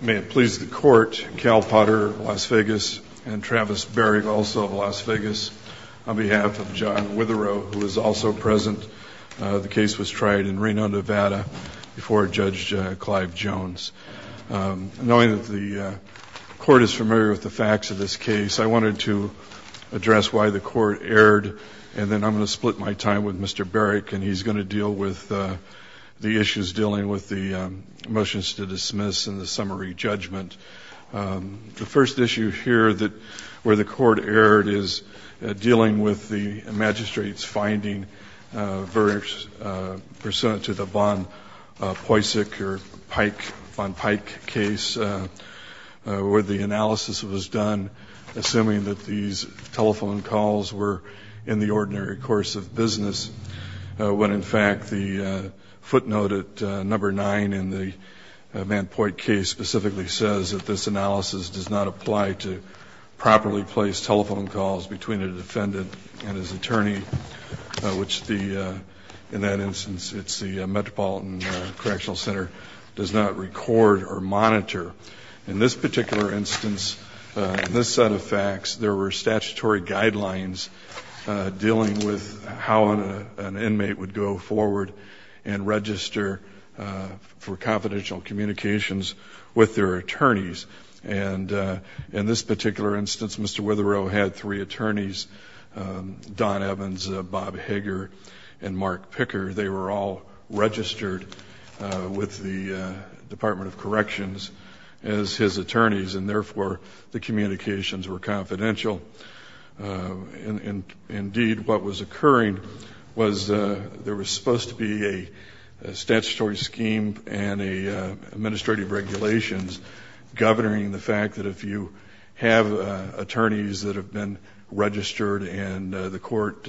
May it please the Court, Cal Potter, Las Vegas, and Travis Berrick, also of Las Vegas, on behalf of John Witherow, who is also present. The case was tried in Reno, Nevada, before Judge Clive Jones. Knowing that the Court is familiar with the facts of this case, I wanted to address why the Court erred, and then I'm going to split my time with Mr. Berrick, and he's going to deal with the issues dealing with the motions to dismiss and the summary judgment. The first issue here that where the Court erred is dealing with the magistrate's finding pursuant to the Von Poisec or Pike, Von Pike case, where the analysis was done assuming that these telephone calls were in the ordinary course of business, when in fact the footnote at number 9 in the Van Poit case specifically says that this analysis does not apply to properly placed telephone calls between a defendant and his attorney, which the, in that instance, it's the Metropolitan Correctional Center, does not record or monitor. In this particular instance, in this set of facts, there were statutory guidelines dealing with how an inmate would go forward and register for confidential communications with their attorneys. And in this particular instance, Mr. Witherow had three attorneys, Don Evans, Bob Hager, and Mark Picker. They were all registered with the Department of Corrections as his attorneys, and therefore the communications were confidential. Indeed, what was occurring was there was supposed to be a statutory scheme and an administrative regulations governing the fact that if you have attorneys that have been registered and the Court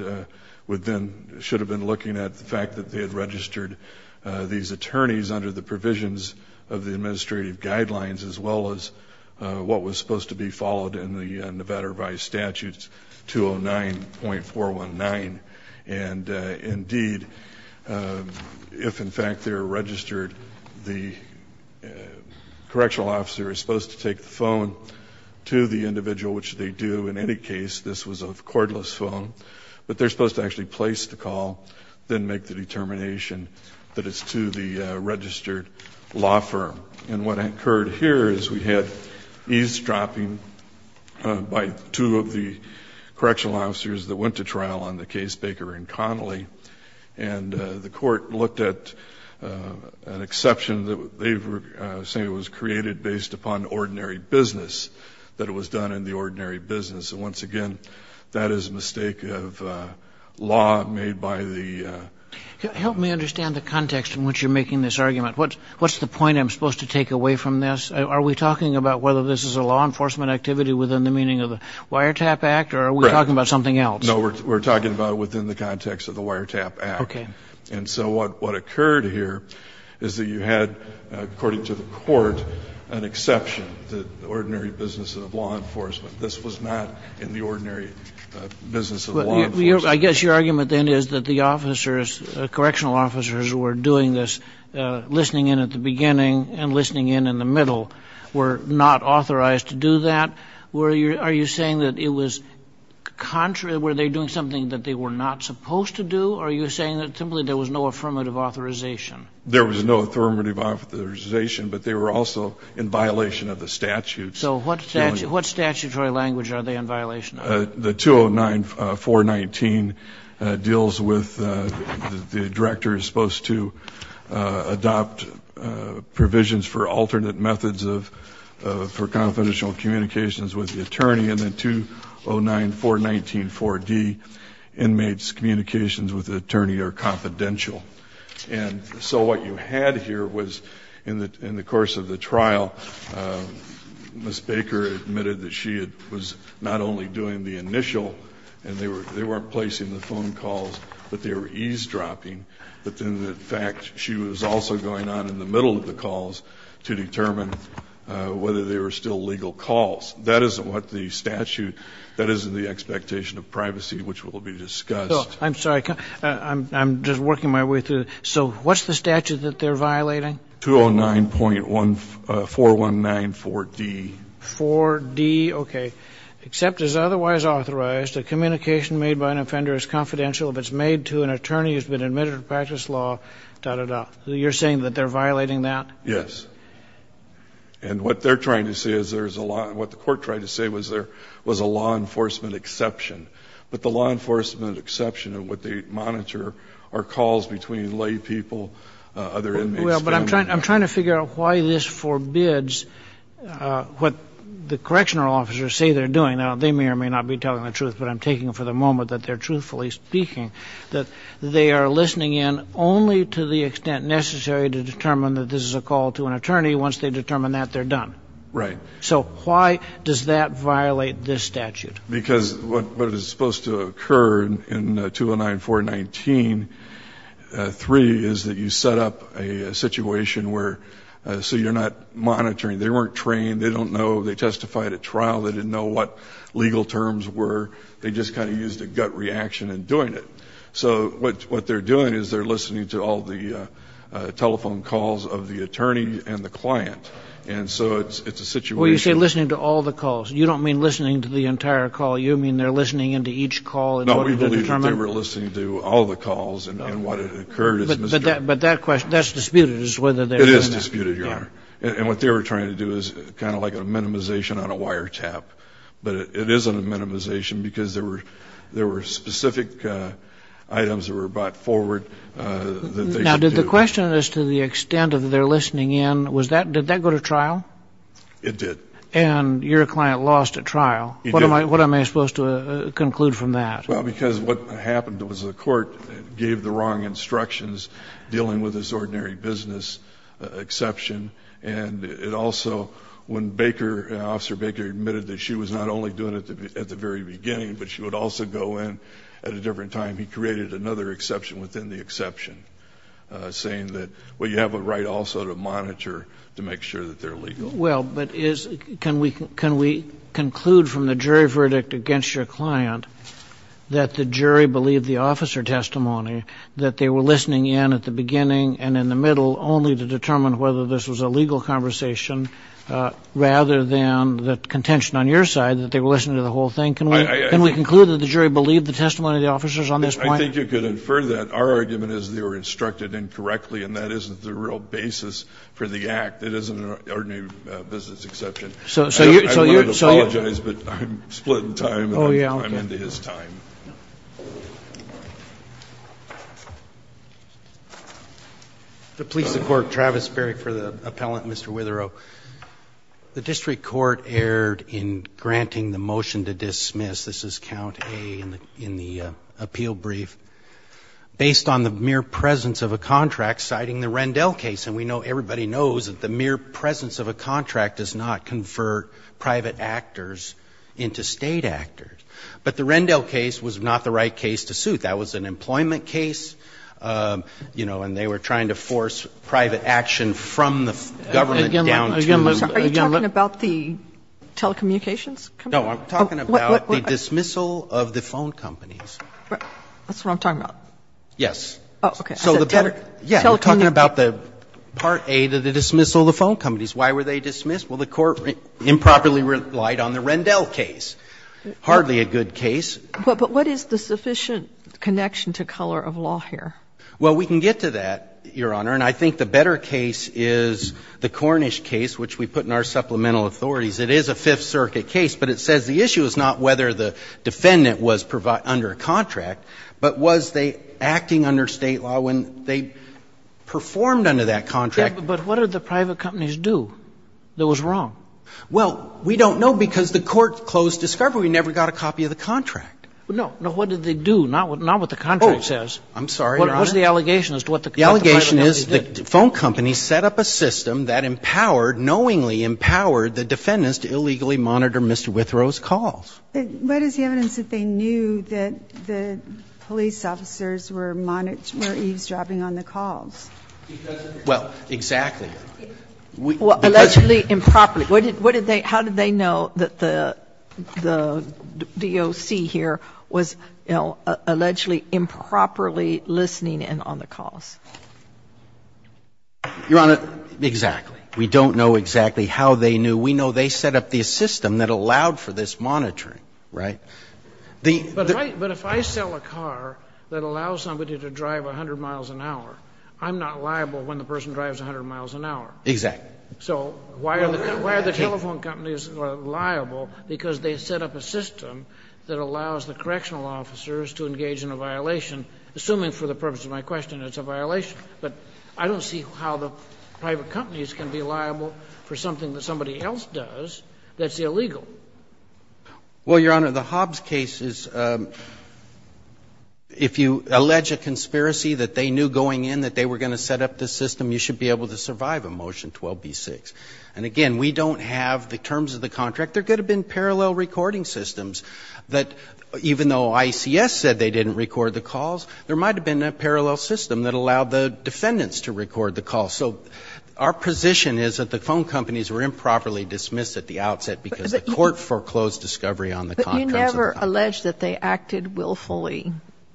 would then, should have been looking at the fact that they had registered these attorneys under the provisions of the administrative guidelines as well as what was supposed to be followed in the Nevada Revised Statutes 209.419. And indeed, if in fact they are registered, the correctional officer is supposed to take the phone to the individual, which they do. In any case, this was a cordless phone, but they are supposed to actually place the call, then make the determination that it's to the registered law firm. And what occurred here is we had eavesdropping by two of the correctional officers that went to trial on the case Baker v. Connolly, and the Court looked at an exception that they were saying was created based upon ordinary business, that it was done in the interest of law enforcement, that it was a mistake of law made by the law firm. Kagan. Help me understand the context in which you're making this argument. What's the point I'm supposed to take away from this? Are we talking about whether this is a law enforcement activity within the meaning of the Wiretap Act, or are we talking about something else? No. We're talking about it within the context of the Wiretap Act. Okay. And so what occurred here is that you had, according to the Court, an exception, the ordinary business of law enforcement. This was not in the ordinary business of law enforcement. I guess your argument then is that the officers, correctional officers, were doing this, listening in at the beginning and listening in in the middle, were not authorized to do that. Are you saying that it was contrary? Were they doing something that they were not supposed to do? Or are you saying that simply there was no affirmative authorization? There was no affirmative authorization, but they were also in violation of the statute. So what statutory language are they in violation of? The 209-419 deals with the director is supposed to adopt provisions for alternate methods for confidential communications with the attorney, and the 209-419-4D inmates' communications with the attorney are confidential. And so what you had here was, in the course of the trial, Ms. Baker admitted that she was not only doing the initial, and they weren't placing the phone calls, but they were eavesdropping, but in fact she was also going on in the middle of the calls to determine whether they were still legal calls. That isn't what the statute, that isn't the expectation of privacy, which will be discussed. I'm sorry, I'm just working my way through. So what's the statute that they're violating? 209.419-4D. 4D, okay. Except as otherwise authorized, a communication made by an offender is confidential if it's made to an attorney who's been admitted to practice law, da-da-da. You're saying that they're violating that? Yes. And what they're trying to say is there's a lot, what the court tried to say was there was a law enforcement exception. But the law enforcement exception of what they monitor are calls between lay people, other inmates. Well, but I'm trying to figure out why this forbids what the correctional officers say they're doing. Now, they may or may not be telling the truth, but I'm taking it for the moment that they're truthfully speaking, that they are listening in only to the extent necessary to determine that this is a call to an attorney. Once they determine that, they're done. Right. So why does that violate this statute? Because what is supposed to occur in 209.419-3 is that you set up a situation where, so you're not monitoring. They weren't trained. They don't know. They testified at trial. They didn't know what legal terms were. They just kind of used a gut reaction in doing it. So what they're doing is they're listening to all the telephone calls of the attorney and the client. And so it's a situation. Well, you say listening to all the calls. You don't mean listening to the entire call. You mean they're listening into each call in order to determine? No, we believe that they were listening to all the calls and what had occurred is misdemeanor. But that question, that's disputed is whether they're doing that. It is disputed, Your Honor. And what they were trying to do is kind of like a minimization on a wiretap. But it isn't a minimization because there were specific items that were brought forward that they should do. Now, did the question as to the extent of their listening in, did that go to trial? It did. And your client lost at trial. He did. What am I supposed to conclude from that? Well, because what happened was the court gave the wrong instructions dealing with this ordinary business exception. And it also, when Baker, Officer Baker admitted that she was not only doing it at the very beginning, but she would also go in at a different time, he created another exception within the exception, saying that, well, you have a right also to monitor to make sure that they're legal. Well, but can we conclude from the jury verdict against your client that the jury believed the officer testimony, that they were listening in at the beginning and in the middle only to determine whether this was a legal conversation rather than the contention on your side that they were listening to the whole thing? Can we conclude that the jury believed the testimony of the officers on this point? I think you could infer that. Our argument is they were instructed incorrectly, and that isn't the real basis for the act. It isn't an ordinary business exception. So you're so I want to apologize, but I'm split in time. Oh, yeah. I'm into his time. To please the Court, Travis Beric for the appellant, Mr. Witherow. The district court erred in granting the motion to dismiss, this is count A in the appeal brief, based on the mere presence of a contract citing the Rendell case. And we know, everybody knows that the mere presence of a contract does not convert private actors into state actors. But the Rendell case was not the right case to suit. That was an employment case, you know, and they were trying to force private action from the government down to Are you talking about the telecommunications company? No, I'm talking about the dismissal of the phone companies. That's what I'm talking about. Yes. Oh, okay. So the better Yeah, you're talking about the part A to the dismissal of the phone companies. Why were they dismissed? Well, the Court improperly relied on the Rendell case. Hardly a good case. But what is the sufficient connection to color of law here? Well, we can get to that, Your Honor. And I think the better case is the Cornish case, which we put in our supplemental authorities. It is a Fifth Circuit case, but it says the issue is not whether the defendant was under a contract, but was they acting under State law when they performed under that contract. But what did the private companies do that was wrong? Well, we don't know because the Court closed discovery. We never got a copy of the contract. No, no. What did they do? Not what the contract says. Oh, I'm sorry, Your Honor. What was the allegation as to what the private companies did? The phone companies set up a system that empowered, knowingly empowered, the defendants to illegally monitor Mr. Withrow's calls. What is the evidence that they knew that the police officers were monitoring, were eavesdropping on the calls? Well, exactly. Allegedly improperly. What did they, how did they know that the DOC here was, you know, allegedly improperly listening in on the calls? Your Honor, exactly. We don't know exactly how they knew. We know they set up the system that allowed for this monitoring, right? But if I sell a car that allows somebody to drive 100 miles an hour, I'm not liable when the person drives 100 miles an hour. Exactly. So why are the telephone companies liable? Because they set up a system that allows the correctional officers to engage in a violation, assuming for the purpose of my question it's a violation. But I don't see how the private companies can be liable for something that somebody else does that's illegal. Well, Your Honor, the Hobbs case is, if you allege a conspiracy that they knew going in that they were going to set up this system, you should be able to survive a Motion 12b-6. And again, we don't have the terms of the contract. There could have been parallel recording systems that, even though ICS said they didn't record the calls, there might have been a parallel system that allowed the defendants to record the calls. So our position is that the phone companies were improperly dismissed at the outset because the court foreclosed discovery on the contract. But you never allege that they acted willfully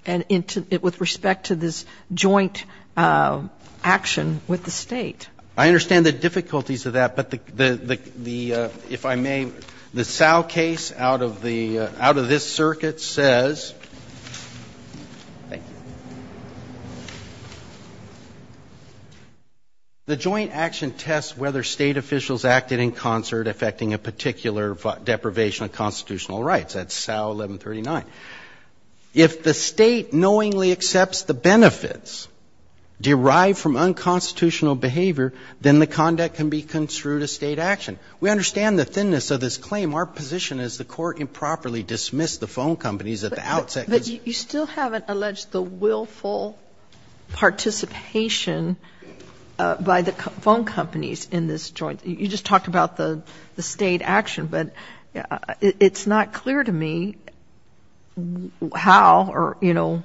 with respect to this joint action with the State. I understand the difficulties of that. But the, if I may, the Sal case out of the, out of this circuit says, thank you, the joint action tests whether State officials acted in concert affecting a particular deprivation of constitutional rights. That's Sal 1139. If the State knowingly accepts the benefits derived from unconstitutional behavior, then the conduct can be construed a State action. We understand the thinness of this claim. Our position is the court improperly dismissed the phone companies at the outset. But you still haven't alleged the willful participation by the phone companies in this joint. You just talked about the State action. But it's not clear to me how or, you know,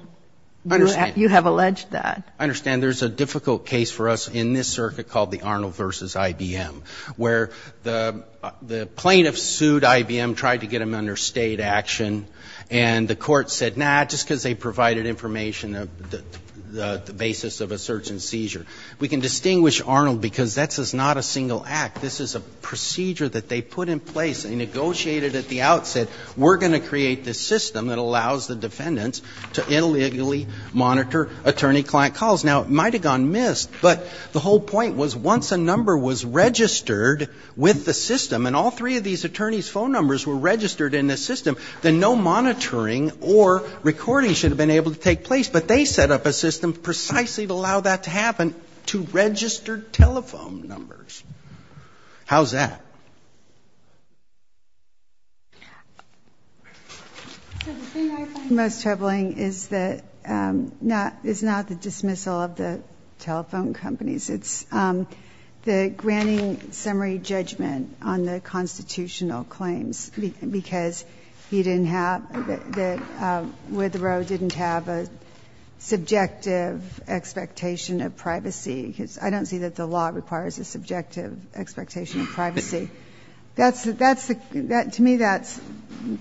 you have alleged that. I understand. And there's a difficult case for us in this circuit called the Arnold v. IBM, where the plaintiff sued IBM, tried to get them under State action, and the court said, nah, just because they provided information of the basis of a certain seizure. We can distinguish Arnold because that's not a single act. This is a procedure that they put in place and negotiated at the outset. We're going to create this system that allows the defendants to illegally monitor attorney-client calls. Now, it might have gone missed. But the whole point was once a number was registered with the system, and all three of these attorneys' phone numbers were registered in the system, then no monitoring or recording should have been able to take place. But they set up a system precisely to allow that to happen, to register telephone numbers. How's that? So the thing I find most troubling is not the dismissal of the telephone companies. It's the granting summary judgment on the constitutional claims because he didn't have, Witherow didn't have a subjective expectation of privacy. I don't see that the law requires a subjective expectation of privacy. That's, to me, that's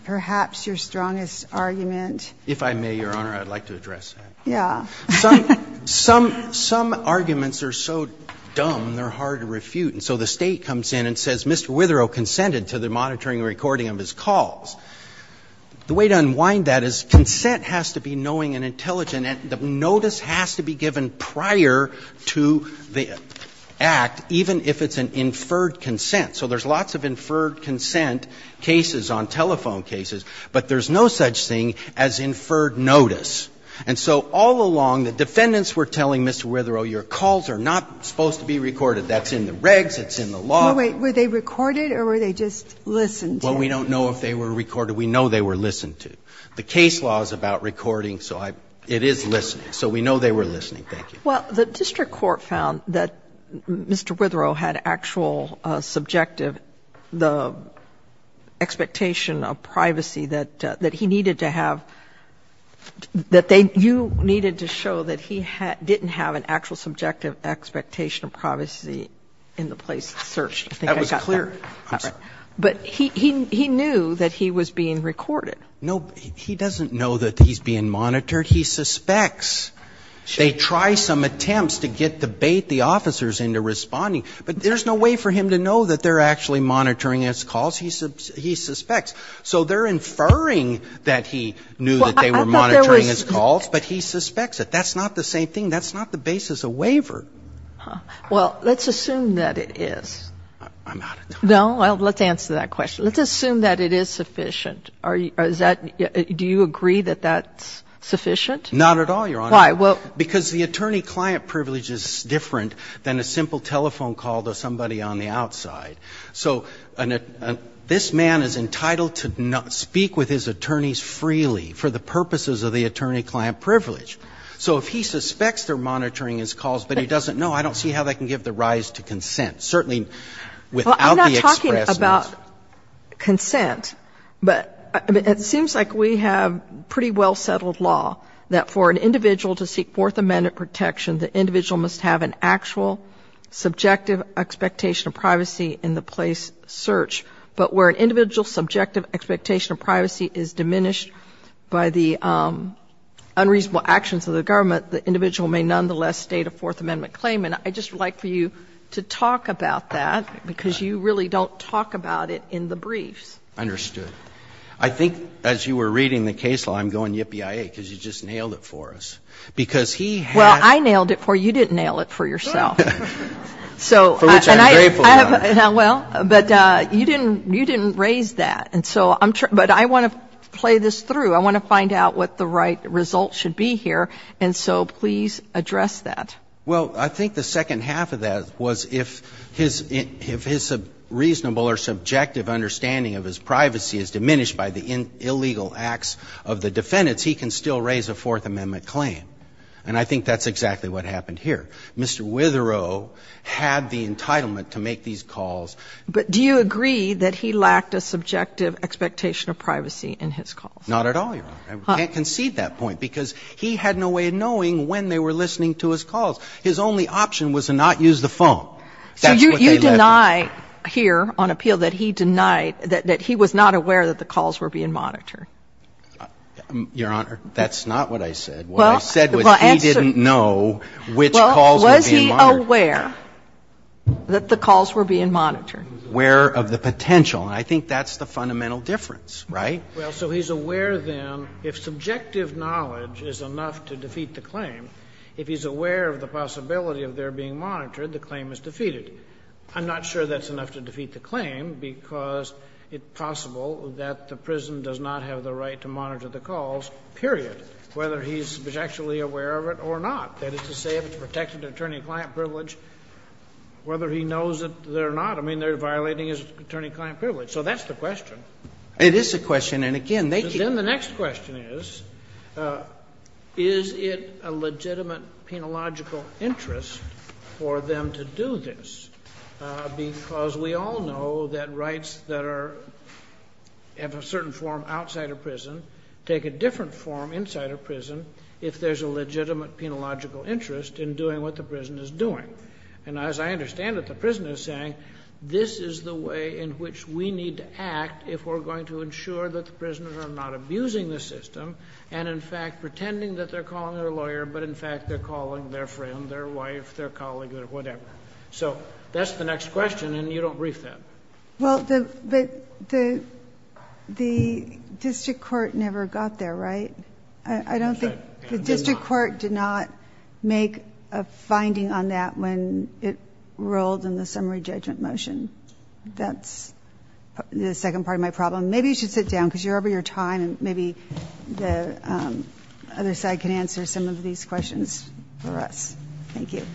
perhaps your strongest argument. If I may, Your Honor, I'd like to address that. Yeah. Some arguments are so dumb, they're hard to refute. And so the State comes in and says Mr. Witherow consented to the monitoring and recording of his calls. The way to unwind that is consent has to be knowing and intelligent. And the notice has to be given prior to the act, even if it's an inferred consent. So there's lots of inferred consent cases on telephone cases, but there's no such thing as inferred notice. And so all along, the defendants were telling Mr. Witherow, your calls are not supposed to be recorded, that's in the regs, it's in the law. Were they recorded or were they just listened to? Well, we don't know if they were recorded. We know they were listened to. The case law is about recording, so it is listening. So we know they were listening. Thank you. Well, the district court found that Mr. Witherow had actual subjective, the expectation of privacy that he needed to have, that you needed to show that he didn't have an actual subjective expectation of privacy in the place searched. I think I got that. That was clear. But he knew that he was being recorded. No, he doesn't know that he's being monitored. He suspects they try some attempts to get to bait the officers into responding, but there's no way for him to know that they're actually monitoring his calls. He suspects. So they're inferring that he knew that they were monitoring his calls, but he suspects it. That's not the same thing. That's not the basis of waiver. Well, let's assume that it is. I'm out of time. No? Well, let's answer that question. Let's assume that it is sufficient. Do you agree that that's sufficient? Not at all, Your Honor. Why? Because the attorney-client privilege is different than a simple telephone call to somebody on the outside. So this man is entitled to speak with his attorneys freely for the purposes of the attorney-client privilege. So if he suspects they're monitoring his calls, but he doesn't know, I don't see how they can give the rise to consent, certainly without the expressness. Consent. But it seems like we have pretty well-settled law that for an individual to seek Fourth Amendment protection, the individual must have an actual subjective expectation of privacy in the place search. But where an individual's subjective expectation of privacy is diminished by the unreasonable actions of the government, the individual may nonetheless state a Fourth Amendment claim. And I just would like for you to talk about that, because you really don't talk about it in the briefs. Understood. I think as you were reading the case law, I'm going yippee-i-yay, because you just nailed it for us. Well, I nailed it for you. You didn't nail it for yourself. For which I'm grateful, Your Honor. Well, but you didn't raise that. But I want to play this through. I want to find out what the right result should be here. And so please address that. Well, I think that's a good question. I think the second half of that was if his reasonable or subjective understanding of his privacy is diminished by the illegal acts of the defendants, he can still raise a Fourth Amendment claim. And I think that's exactly what happened here. Mr. Witherow had the entitlement to make these calls. But do you agree that he lacked a subjective expectation of privacy in his calls? Not at all, Your Honor. I can't concede that point, because he had no way of knowing when they were listening to his calls. His only option was to not use the phone. That's what they let him do. So you deny here on appeal that he denied that he was not aware that the calls were being monitored? Your Honor, that's not what I said. What I said was he didn't know which calls were being monitored. Well, was he aware that the calls were being monitored? Aware of the potential. And I think that's the fundamental difference, right? Well, so he's aware, then, if subjective knowledge is enough to defeat the claim, if he's aware of the possibility of their being monitored, the claim is defeated. I'm not sure that's enough to defeat the claim, because it's possible that the prison does not have the right to monitor the calls, period, whether he's subjectually aware of it or not. That is to say, if it's protected attorney-client privilege, whether he knows it or not. I mean, they're violating his attorney-client privilege. So that's the question. It is a question. And again, they keep... Then the next question is, is it a legitimate penological interest for them to do this? Because we all know that rights that are of a certain form outside a prison take a different form inside a prison if there's a legitimate penological interest in doing what the prison is doing. And as I understand it, the prison is saying, this is the way in which we need to act if we're going to ensure that the prisoners are not abusing the system, and in fact, pretending that they're calling their lawyer, but in fact, they're calling their friend, their wife, their colleague, whatever. So that's the next question, and you don't brief them. Well, the district court never got there, right? I don't think... The district court did not make a finding on that when it rolled in the summary judgment motion. That's the second part of my problem. Maybe you should sit down, because you're over your time, and maybe the other side can answer some of these questions for us. Thank you.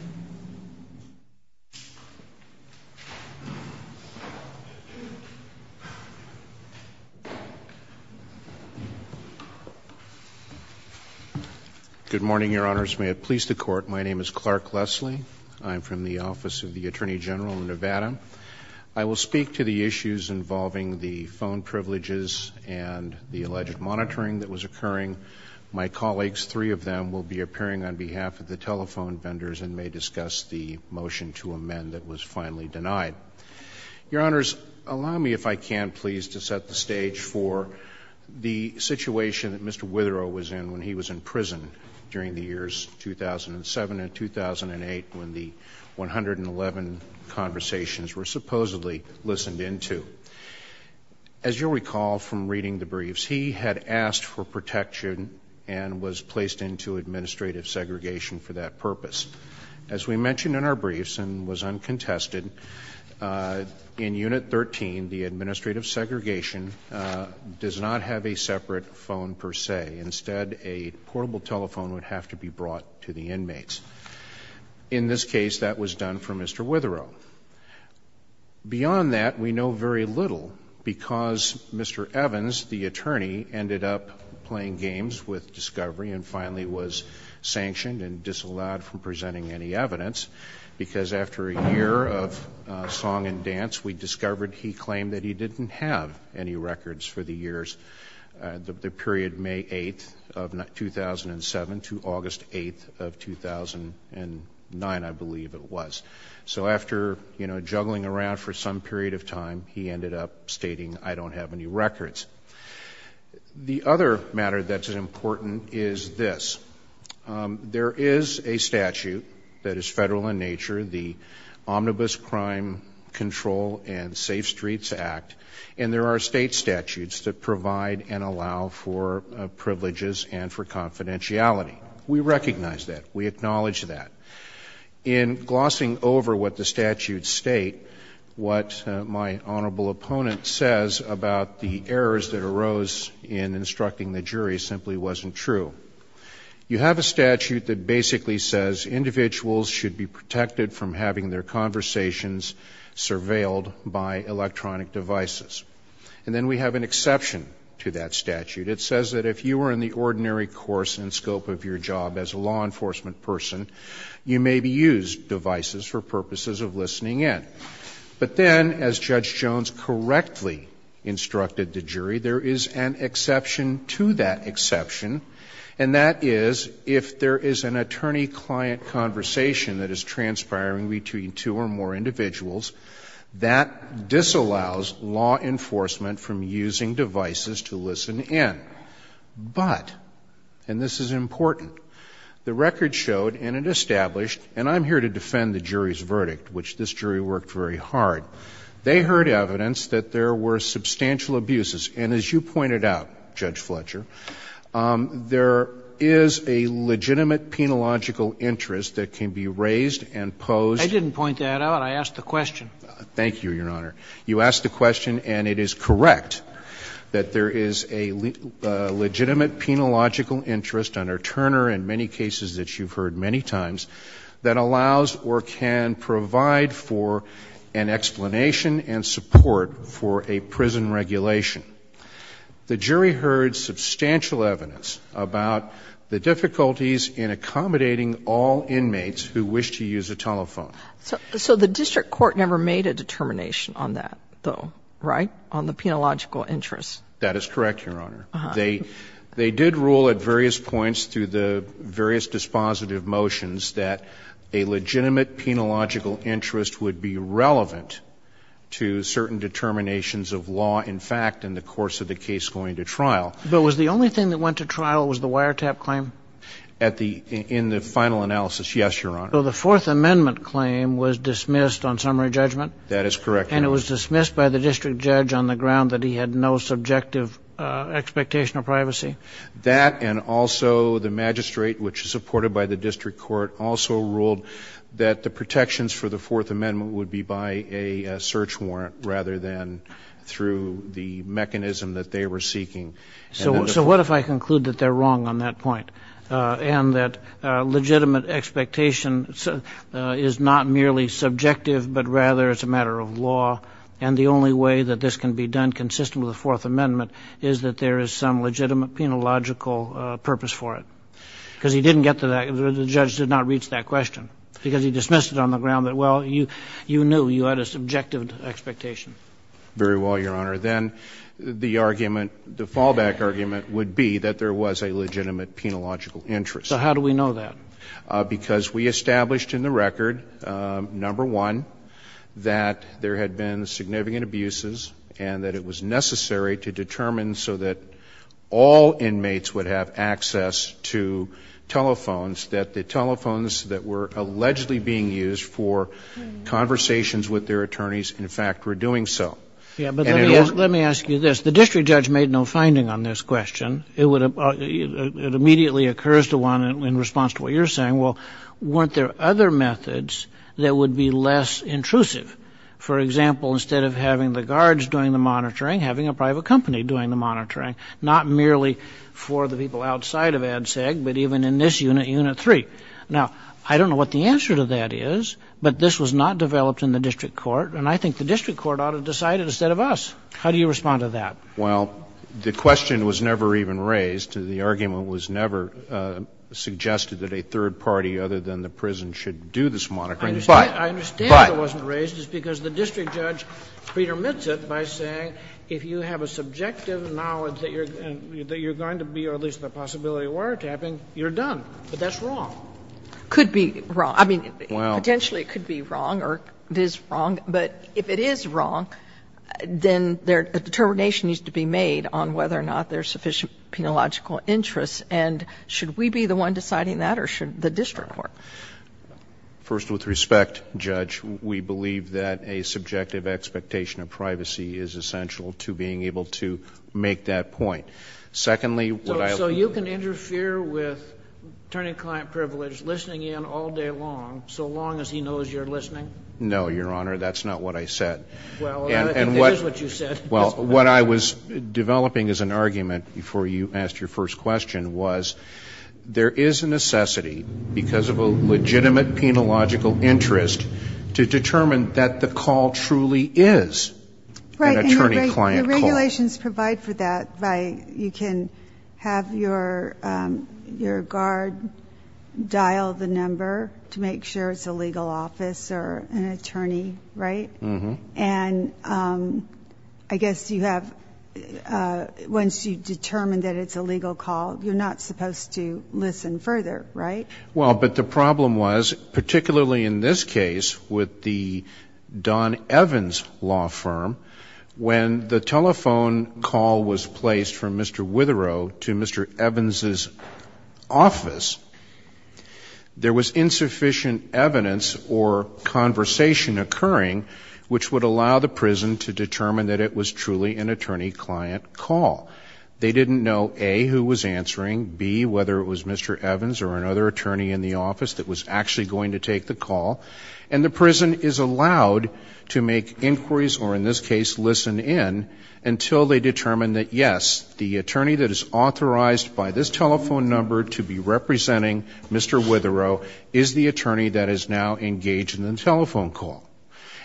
Good morning, Your Honors. May it please the Court, my name is Clark Leslie. I'm from the Office of the Attorney General in Nevada. I will speak to the issues involving the phone privileges and the alleged monitoring that was occurring. My colleagues, three of them, will be appearing on behalf of the telephone vendors and may discuss the motion to amend that was finally denied. Your Honors, allow me, if I can, please, to set the stage for the situation that Mr. Witherow was in when he was in prison during the years 2007 and 2008, when the 111 conversations were supposedly listened into. As you'll recall from reading the briefs, he had asked for protection and was placed into administrative segregation for that purpose. As we mentioned in our briefs and was uncontested, in Unit 13, the administrative segregation does not have a separate phone per se. Instead, a portable telephone would have to be brought to the inmates. In this case, that was done for Mr. Witherow. Beyond that, we know very little, because Mr. Evans, the attorney, ended up playing games with discovery and finally was sanctioned and disallowed from presenting any evidence, because after a year of song and dance, we discovered he claimed that he didn't have any records for the years, the period May 8th of 2007 to August 8th of 2009, I believe it was. So after juggling around for some period of time, he ended up stating, I don't have any records. The other matter that's important is this. There is a statute that is federal in nature, the Omnibus Crime Control and Safe Streets Act, and there are state statutes that provide and allow for privileges and for confidentiality. We recognize that. We acknowledge that. In glossing over what the statutes state, what my honorable opponent says about the errors that arose in instructing the jury simply wasn't true. You have a statute that basically says individuals should be protected from having their conversations surveilled by electronic devices. And then we have an exception to that statute. It says that if you were in the ordinary course and scope of your job as a law enforcement person, you may be used devices for purposes of listening in. But then, as Judge Jones correctly instructed the jury, there is an exception to that exception, and that is, if there is an attorney-client conversation that is transpiring between two or more individuals, that disallows law enforcement from using devices to listen in. But, and this is important, the record showed, and it established, and I'm here to defend the jury's verdict, which this jury worked very hard, they heard evidence that there were substantial abuses. And as you pointed out, Judge Fletcher, there is a legitimate penological interest that can be raised and posed. I didn't point that out. I asked the question. Thank you, Your Honor. You asked the question, and it is correct that there is a legitimate penological interest under Turner in many cases that you've heard many times that allows or can provide for an explanation and support for a prison regulation. The jury heard substantial evidence about the difficulties in accommodating all inmates who wish to use a telephone. So the district court never made a determination on that, though, right, on the penological interest? That is correct, Your Honor. They did rule at various points through the various dispositive motions that a legitimate penological interest would be relevant to certain determinations of law, in fact, in the course of the case going to trial. But was the only thing that went to trial was the wiretap claim? In the final analysis, yes, Your Honor. So the Fourth Amendment claim was dismissed on summary judgment? That is correct, Your Honor. And it was dismissed by the district judge on the ground that he had no subjective expectation of privacy? That and also the magistrate, which is supported by the district court, also ruled that the protections for the Fourth Amendment would be by a search warrant rather than through the mechanism that they were seeking. So what if I conclude that they're wrong on that point and that legitimate expectation is not merely subjective but rather it's a matter of law and the only way that this can be done consistent with the Fourth Amendment is that there is some legitimate penological purpose for it? Because he didn't get to that, the judge did not reach that question because he dismissed it on the ground that, well, you knew, you had a subjective expectation. Very well, Your Honor. Then the argument, the fallback argument would be that there was a legitimate penological interest. So how do we know that? Because we established in the record, number one, that there had been significant abuses and that it was necessary to determine so that all inmates would have access to telephones that the telephones that were allegedly being used for conversations with their attorneys, in fact, were doing so. Yeah, but let me ask you this. The district judge made no finding on this question. It immediately occurs to one in response to what you're saying, well, weren't there other methods that would be less intrusive? For example, instead of having the guards doing the monitoring, having a private company doing the monitoring, not merely for the people outside of ADSEG, but even in this unit, Unit 3. Now, I don't know what the answer to that is, but this was not developed in the district court, and I think the district court ought to decide it instead of us. How do you respond to that? Well, the question was never even raised. The argument was never suggested that a third party other than the prison should do this monitoring. I understand it wasn't raised. It's because the district judge pre-dermits it by saying if you have a subjective knowledge that you're going to be, or at least the possibility of wiretapping, you're done. But that's wrong. Could be wrong. I mean, potentially it could be wrong, or it is wrong. But if it is wrong, then a determination needs to be made on whether or not there's sufficient penological interest. And should we be the one deciding that, or should the district court? First, with respect, Judge, we believe that a subjective expectation of privacy is essential to being able to make that point. Secondly, what I... So you can interfere with attorney-client privilege listening in all day long, so long as he knows you're listening? No, Your Honor, that's not what I said. Well, it is what you said. Well, what I was developing as an argument before you asked your first question was there is a necessity because of a legitimate penological interest to determine that the call truly is an attorney-client call. Right, and the regulations provide for that by... You can have your guard dial the number to make sure it's a legal office or an attorney, right? Mm-hmm. And I guess you have... Once you determine that it's a legal call, you're not supposed to listen further, right? Well, but the problem was, particularly in this case, with the Don Evans law firm, when the telephone call was placed from Mr Witherow to Mr Evans' office, there was insufficient evidence or conversation occurring which would allow the prison to determine that it was truly an attorney-client call. They didn't know, A, who was answering, B, whether it was Mr Evans or another attorney in the office that was actually going to take the call. And the prison is allowed to make inquiries, or in this case, listen in, until they determine that, yes, the attorney that is authorized by this telephone number to be representing Mr Witherow is the attorney that is now engaged in the telephone call.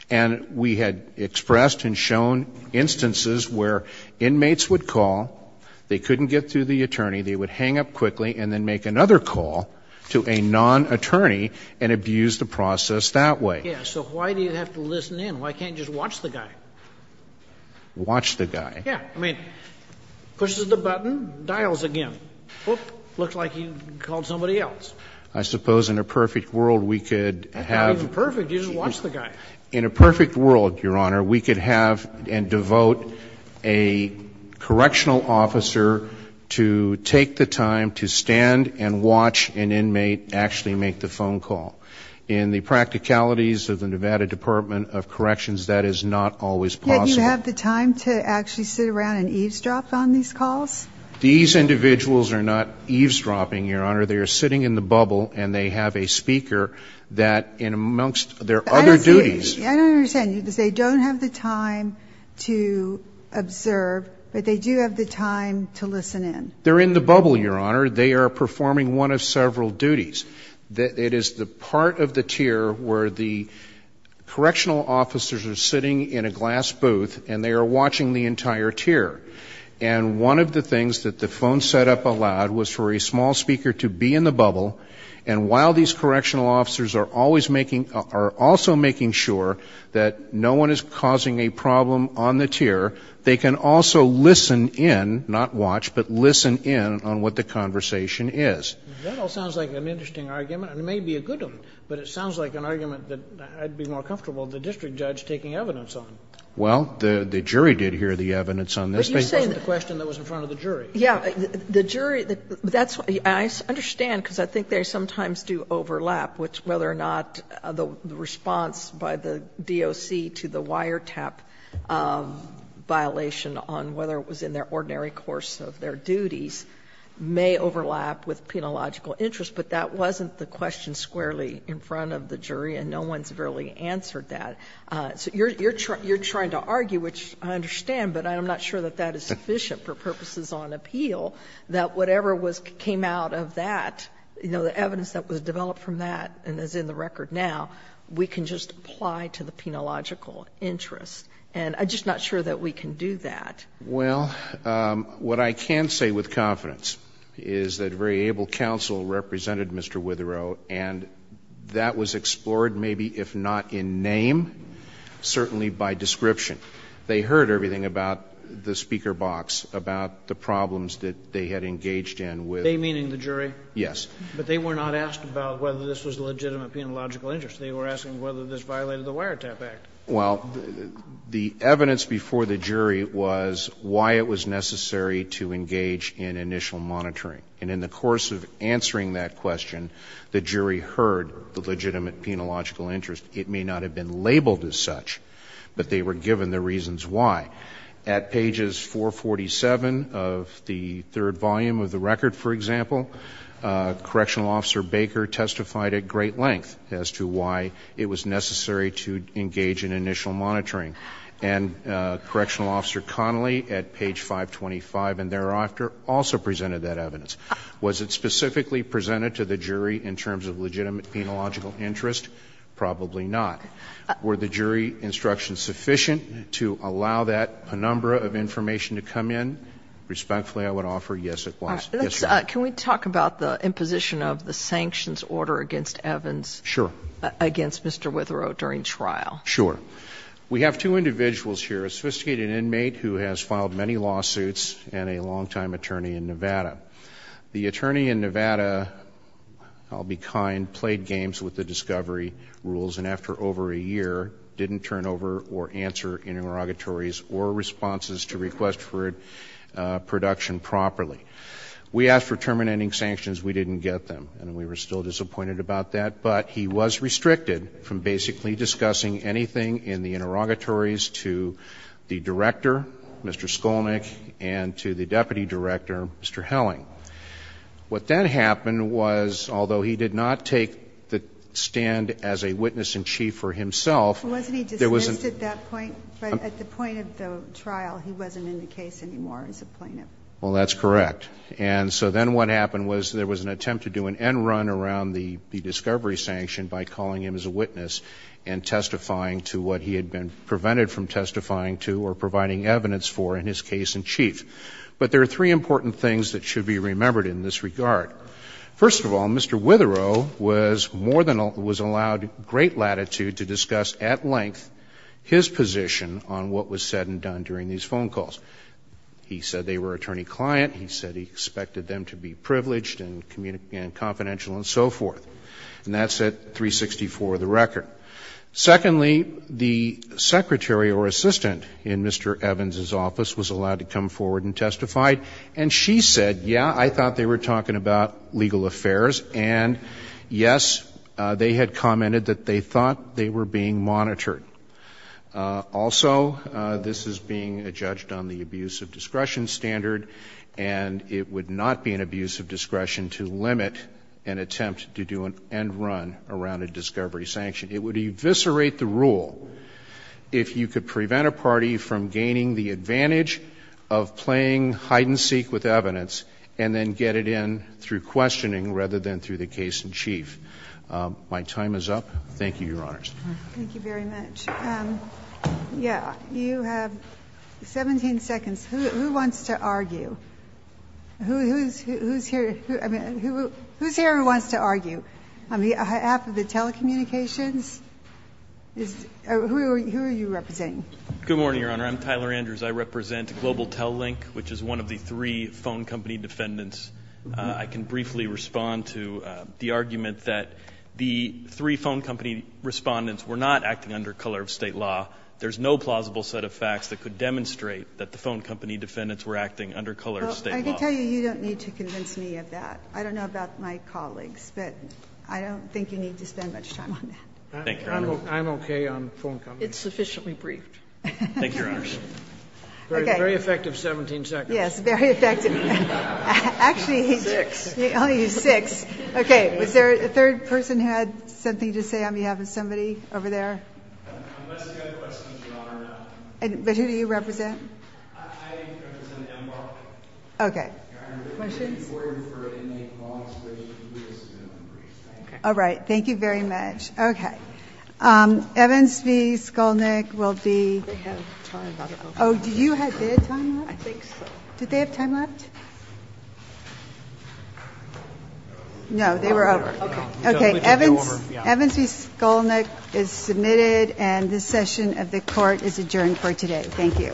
And we had expressed and shown instances where inmates would call, they couldn't get through the attorney, they would hang up quickly and then make another call to a non-attorney and abuse the process that way. Yeah, so why do you have to listen in? Why can't you just watch the guy? Watch the guy? Yeah, I mean, pushes the button, dials again. Oop, looks like you called somebody else. I suppose in a perfect world we could have... Not even perfect, you just watch the guy. In a perfect world, Your Honor, we could have and devote a correctional officer to take the time to stand and watch an inmate actually make the phone call. In the practicalities of the Nevada Department of Corrections, that is not always possible. Yet you have the time to actually sit around and eavesdrop on these calls? These individuals are not eavesdropping, Your Honor. They are sitting in the bubble and they have a speaker that in amongst their other duties... I don't understand. You say they don't have the time to observe, but they do have the time to listen in. They're in the bubble, Your Honor. They are performing one of several duties. It is the part of the tier where the correctional officers are sitting in a glass booth and they are watching the entire tier. And one of the things that the phone set up allowed was for a small speaker to be in the bubble. And while these correctional officers are also making sure that no one is causing a problem on the tier, they can also listen in, not watch, but listen in on what the conversation is. That all sounds like an interesting argument and it may be a good one, but it sounds like an argument that I'd be more comfortable, the district judge, taking evidence on. Well, the jury did hear the evidence on this. But you're saying the question that was in front of the jury. Yeah. The jury... I understand because I think they sometimes do overlap, whether or not the response by the DOC to the wiretap violation on whether it was in their ordinary course of their duties may overlap with penological interest. But that wasn't the question squarely in front of the jury and no one's really answered that. So you're trying to argue, which I understand, but I'm not sure that that is sufficient for purposes on appeal, that whatever came out of that, you know, the evidence that was developed from that and is in the record now, we can just apply to the penological interest. And I'm just not sure that we can do that. Well, what I can say with confidence is that very able counsel represented Mr. Witherow and that was explored maybe, if not in name, certainly by description. They heard everything about the speaker box, about the problems that they had engaged in with... They, meaning the jury? Yes. But they were not asked about whether this was legitimate penological interest. They were asking whether this violated the Wiretap Act. Well, the evidence before the jury was why it was necessary to engage in initial monitoring. And in the course of answering that question, the jury heard the legitimate penological interest. It may not have been labeled as such, but they were given the reasons why. At pages 447 of the third volume of the record, for example, Correctional Officer Baker testified at great length as to why it was necessary to engage in initial monitoring. And Correctional Officer Connolly at page 525 and thereafter also presented that evidence. Was it specifically presented to the jury in terms of legitimate penological interest? Probably not. Were the jury instructions sufficient to allow that penumbra of information to come in? Respectfully, I would offer yes, it was. Can we talk about the imposition of the sanctions order against Evans? Sure. Against Mr. Witherow during trial? Sure. We have two individuals here, a sophisticated inmate who has filed many lawsuits and a long-time attorney in Nevada. The attorney in Nevada, I'll be kind, played games with the discovery rules and after over a year didn't turn over or answer interrogatories or responses to requests for production properly. We asked for terminating sanctions. We didn't get them, and we were still disappointed about that. But he was restricted from basically discussing anything in the interrogatories to the director, Mr. Skolnick, and to the deputy director, Mr. Helling. What then happened was, although he did not take the stand as a witness-in-chief for himself... Wasn't he dismissed at that point? But at the point of the trial, he wasn't in the case anymore as a plaintiff. Well, that's correct. And so then what happened was there was an attempt to do an end run around the discovery sanction by calling him as a witness and testifying to what he had been prevented from testifying to or providing evidence for in his case-in-chief. But there are three important things that should be remembered in this regard. First of all, Mr. Witherow was allowed great latitude to discuss at length his position on what was said and done during these phone calls. He said they were attorney-client. He said he expected them to be privileged and confidential and so forth. And that's at 364 of the record. Secondly, the secretary or assistant in Mr. Evans' office was allowed to come forward and testify and she said, yeah, I thought they were talking about legal affairs and yes, they had commented that they thought they were being monitored. Also, this is being judged on the abuse of discretion standard and it would not be an abuse of discretion to limit an attempt to do and run around a discovery sanction. It would eviscerate the rule if you could prevent a party from gaining the advantage of playing hide-and-seek with evidence and then get it in through questioning rather than through the case-in-chief. My time is up. Thank you, Your Honors. Thank you very much. You have 17 seconds. Who wants to argue? Who's here who wants to argue? On behalf of the telecommunications? Who are you representing? Good morning, Your Honor. I'm Tyler Andrews. I represent Global Tellink, which is one of the three phone company defendants. I can briefly respond to the argument that the three phone company respondents were not acting under color of state law. There's no plausible set of facts that could demonstrate that the phone company defendants were acting under color of state law. I can tell you, you don't need to convince me of that. I don't know about my colleagues, but I don't think you need to spend much time on that. I'm okay on phone companies. It's sufficiently briefed. Thank you, Your Honors. Very effective 17 seconds. Yes, very effective. Six. Okay, was there a third person who had something to say on behalf of somebody over there? Unless you have questions, Your Honor, I don't. But who do you represent? I represent Embark. Okay. Questions? All right. Thank you very much. Evans v. Skolnick will be Oh, did you have their time left? I think so. Did they have time left? No, they were over. Okay, Evans v. Skolnick is submitted and this session of the court is adjourned for today. Thank you.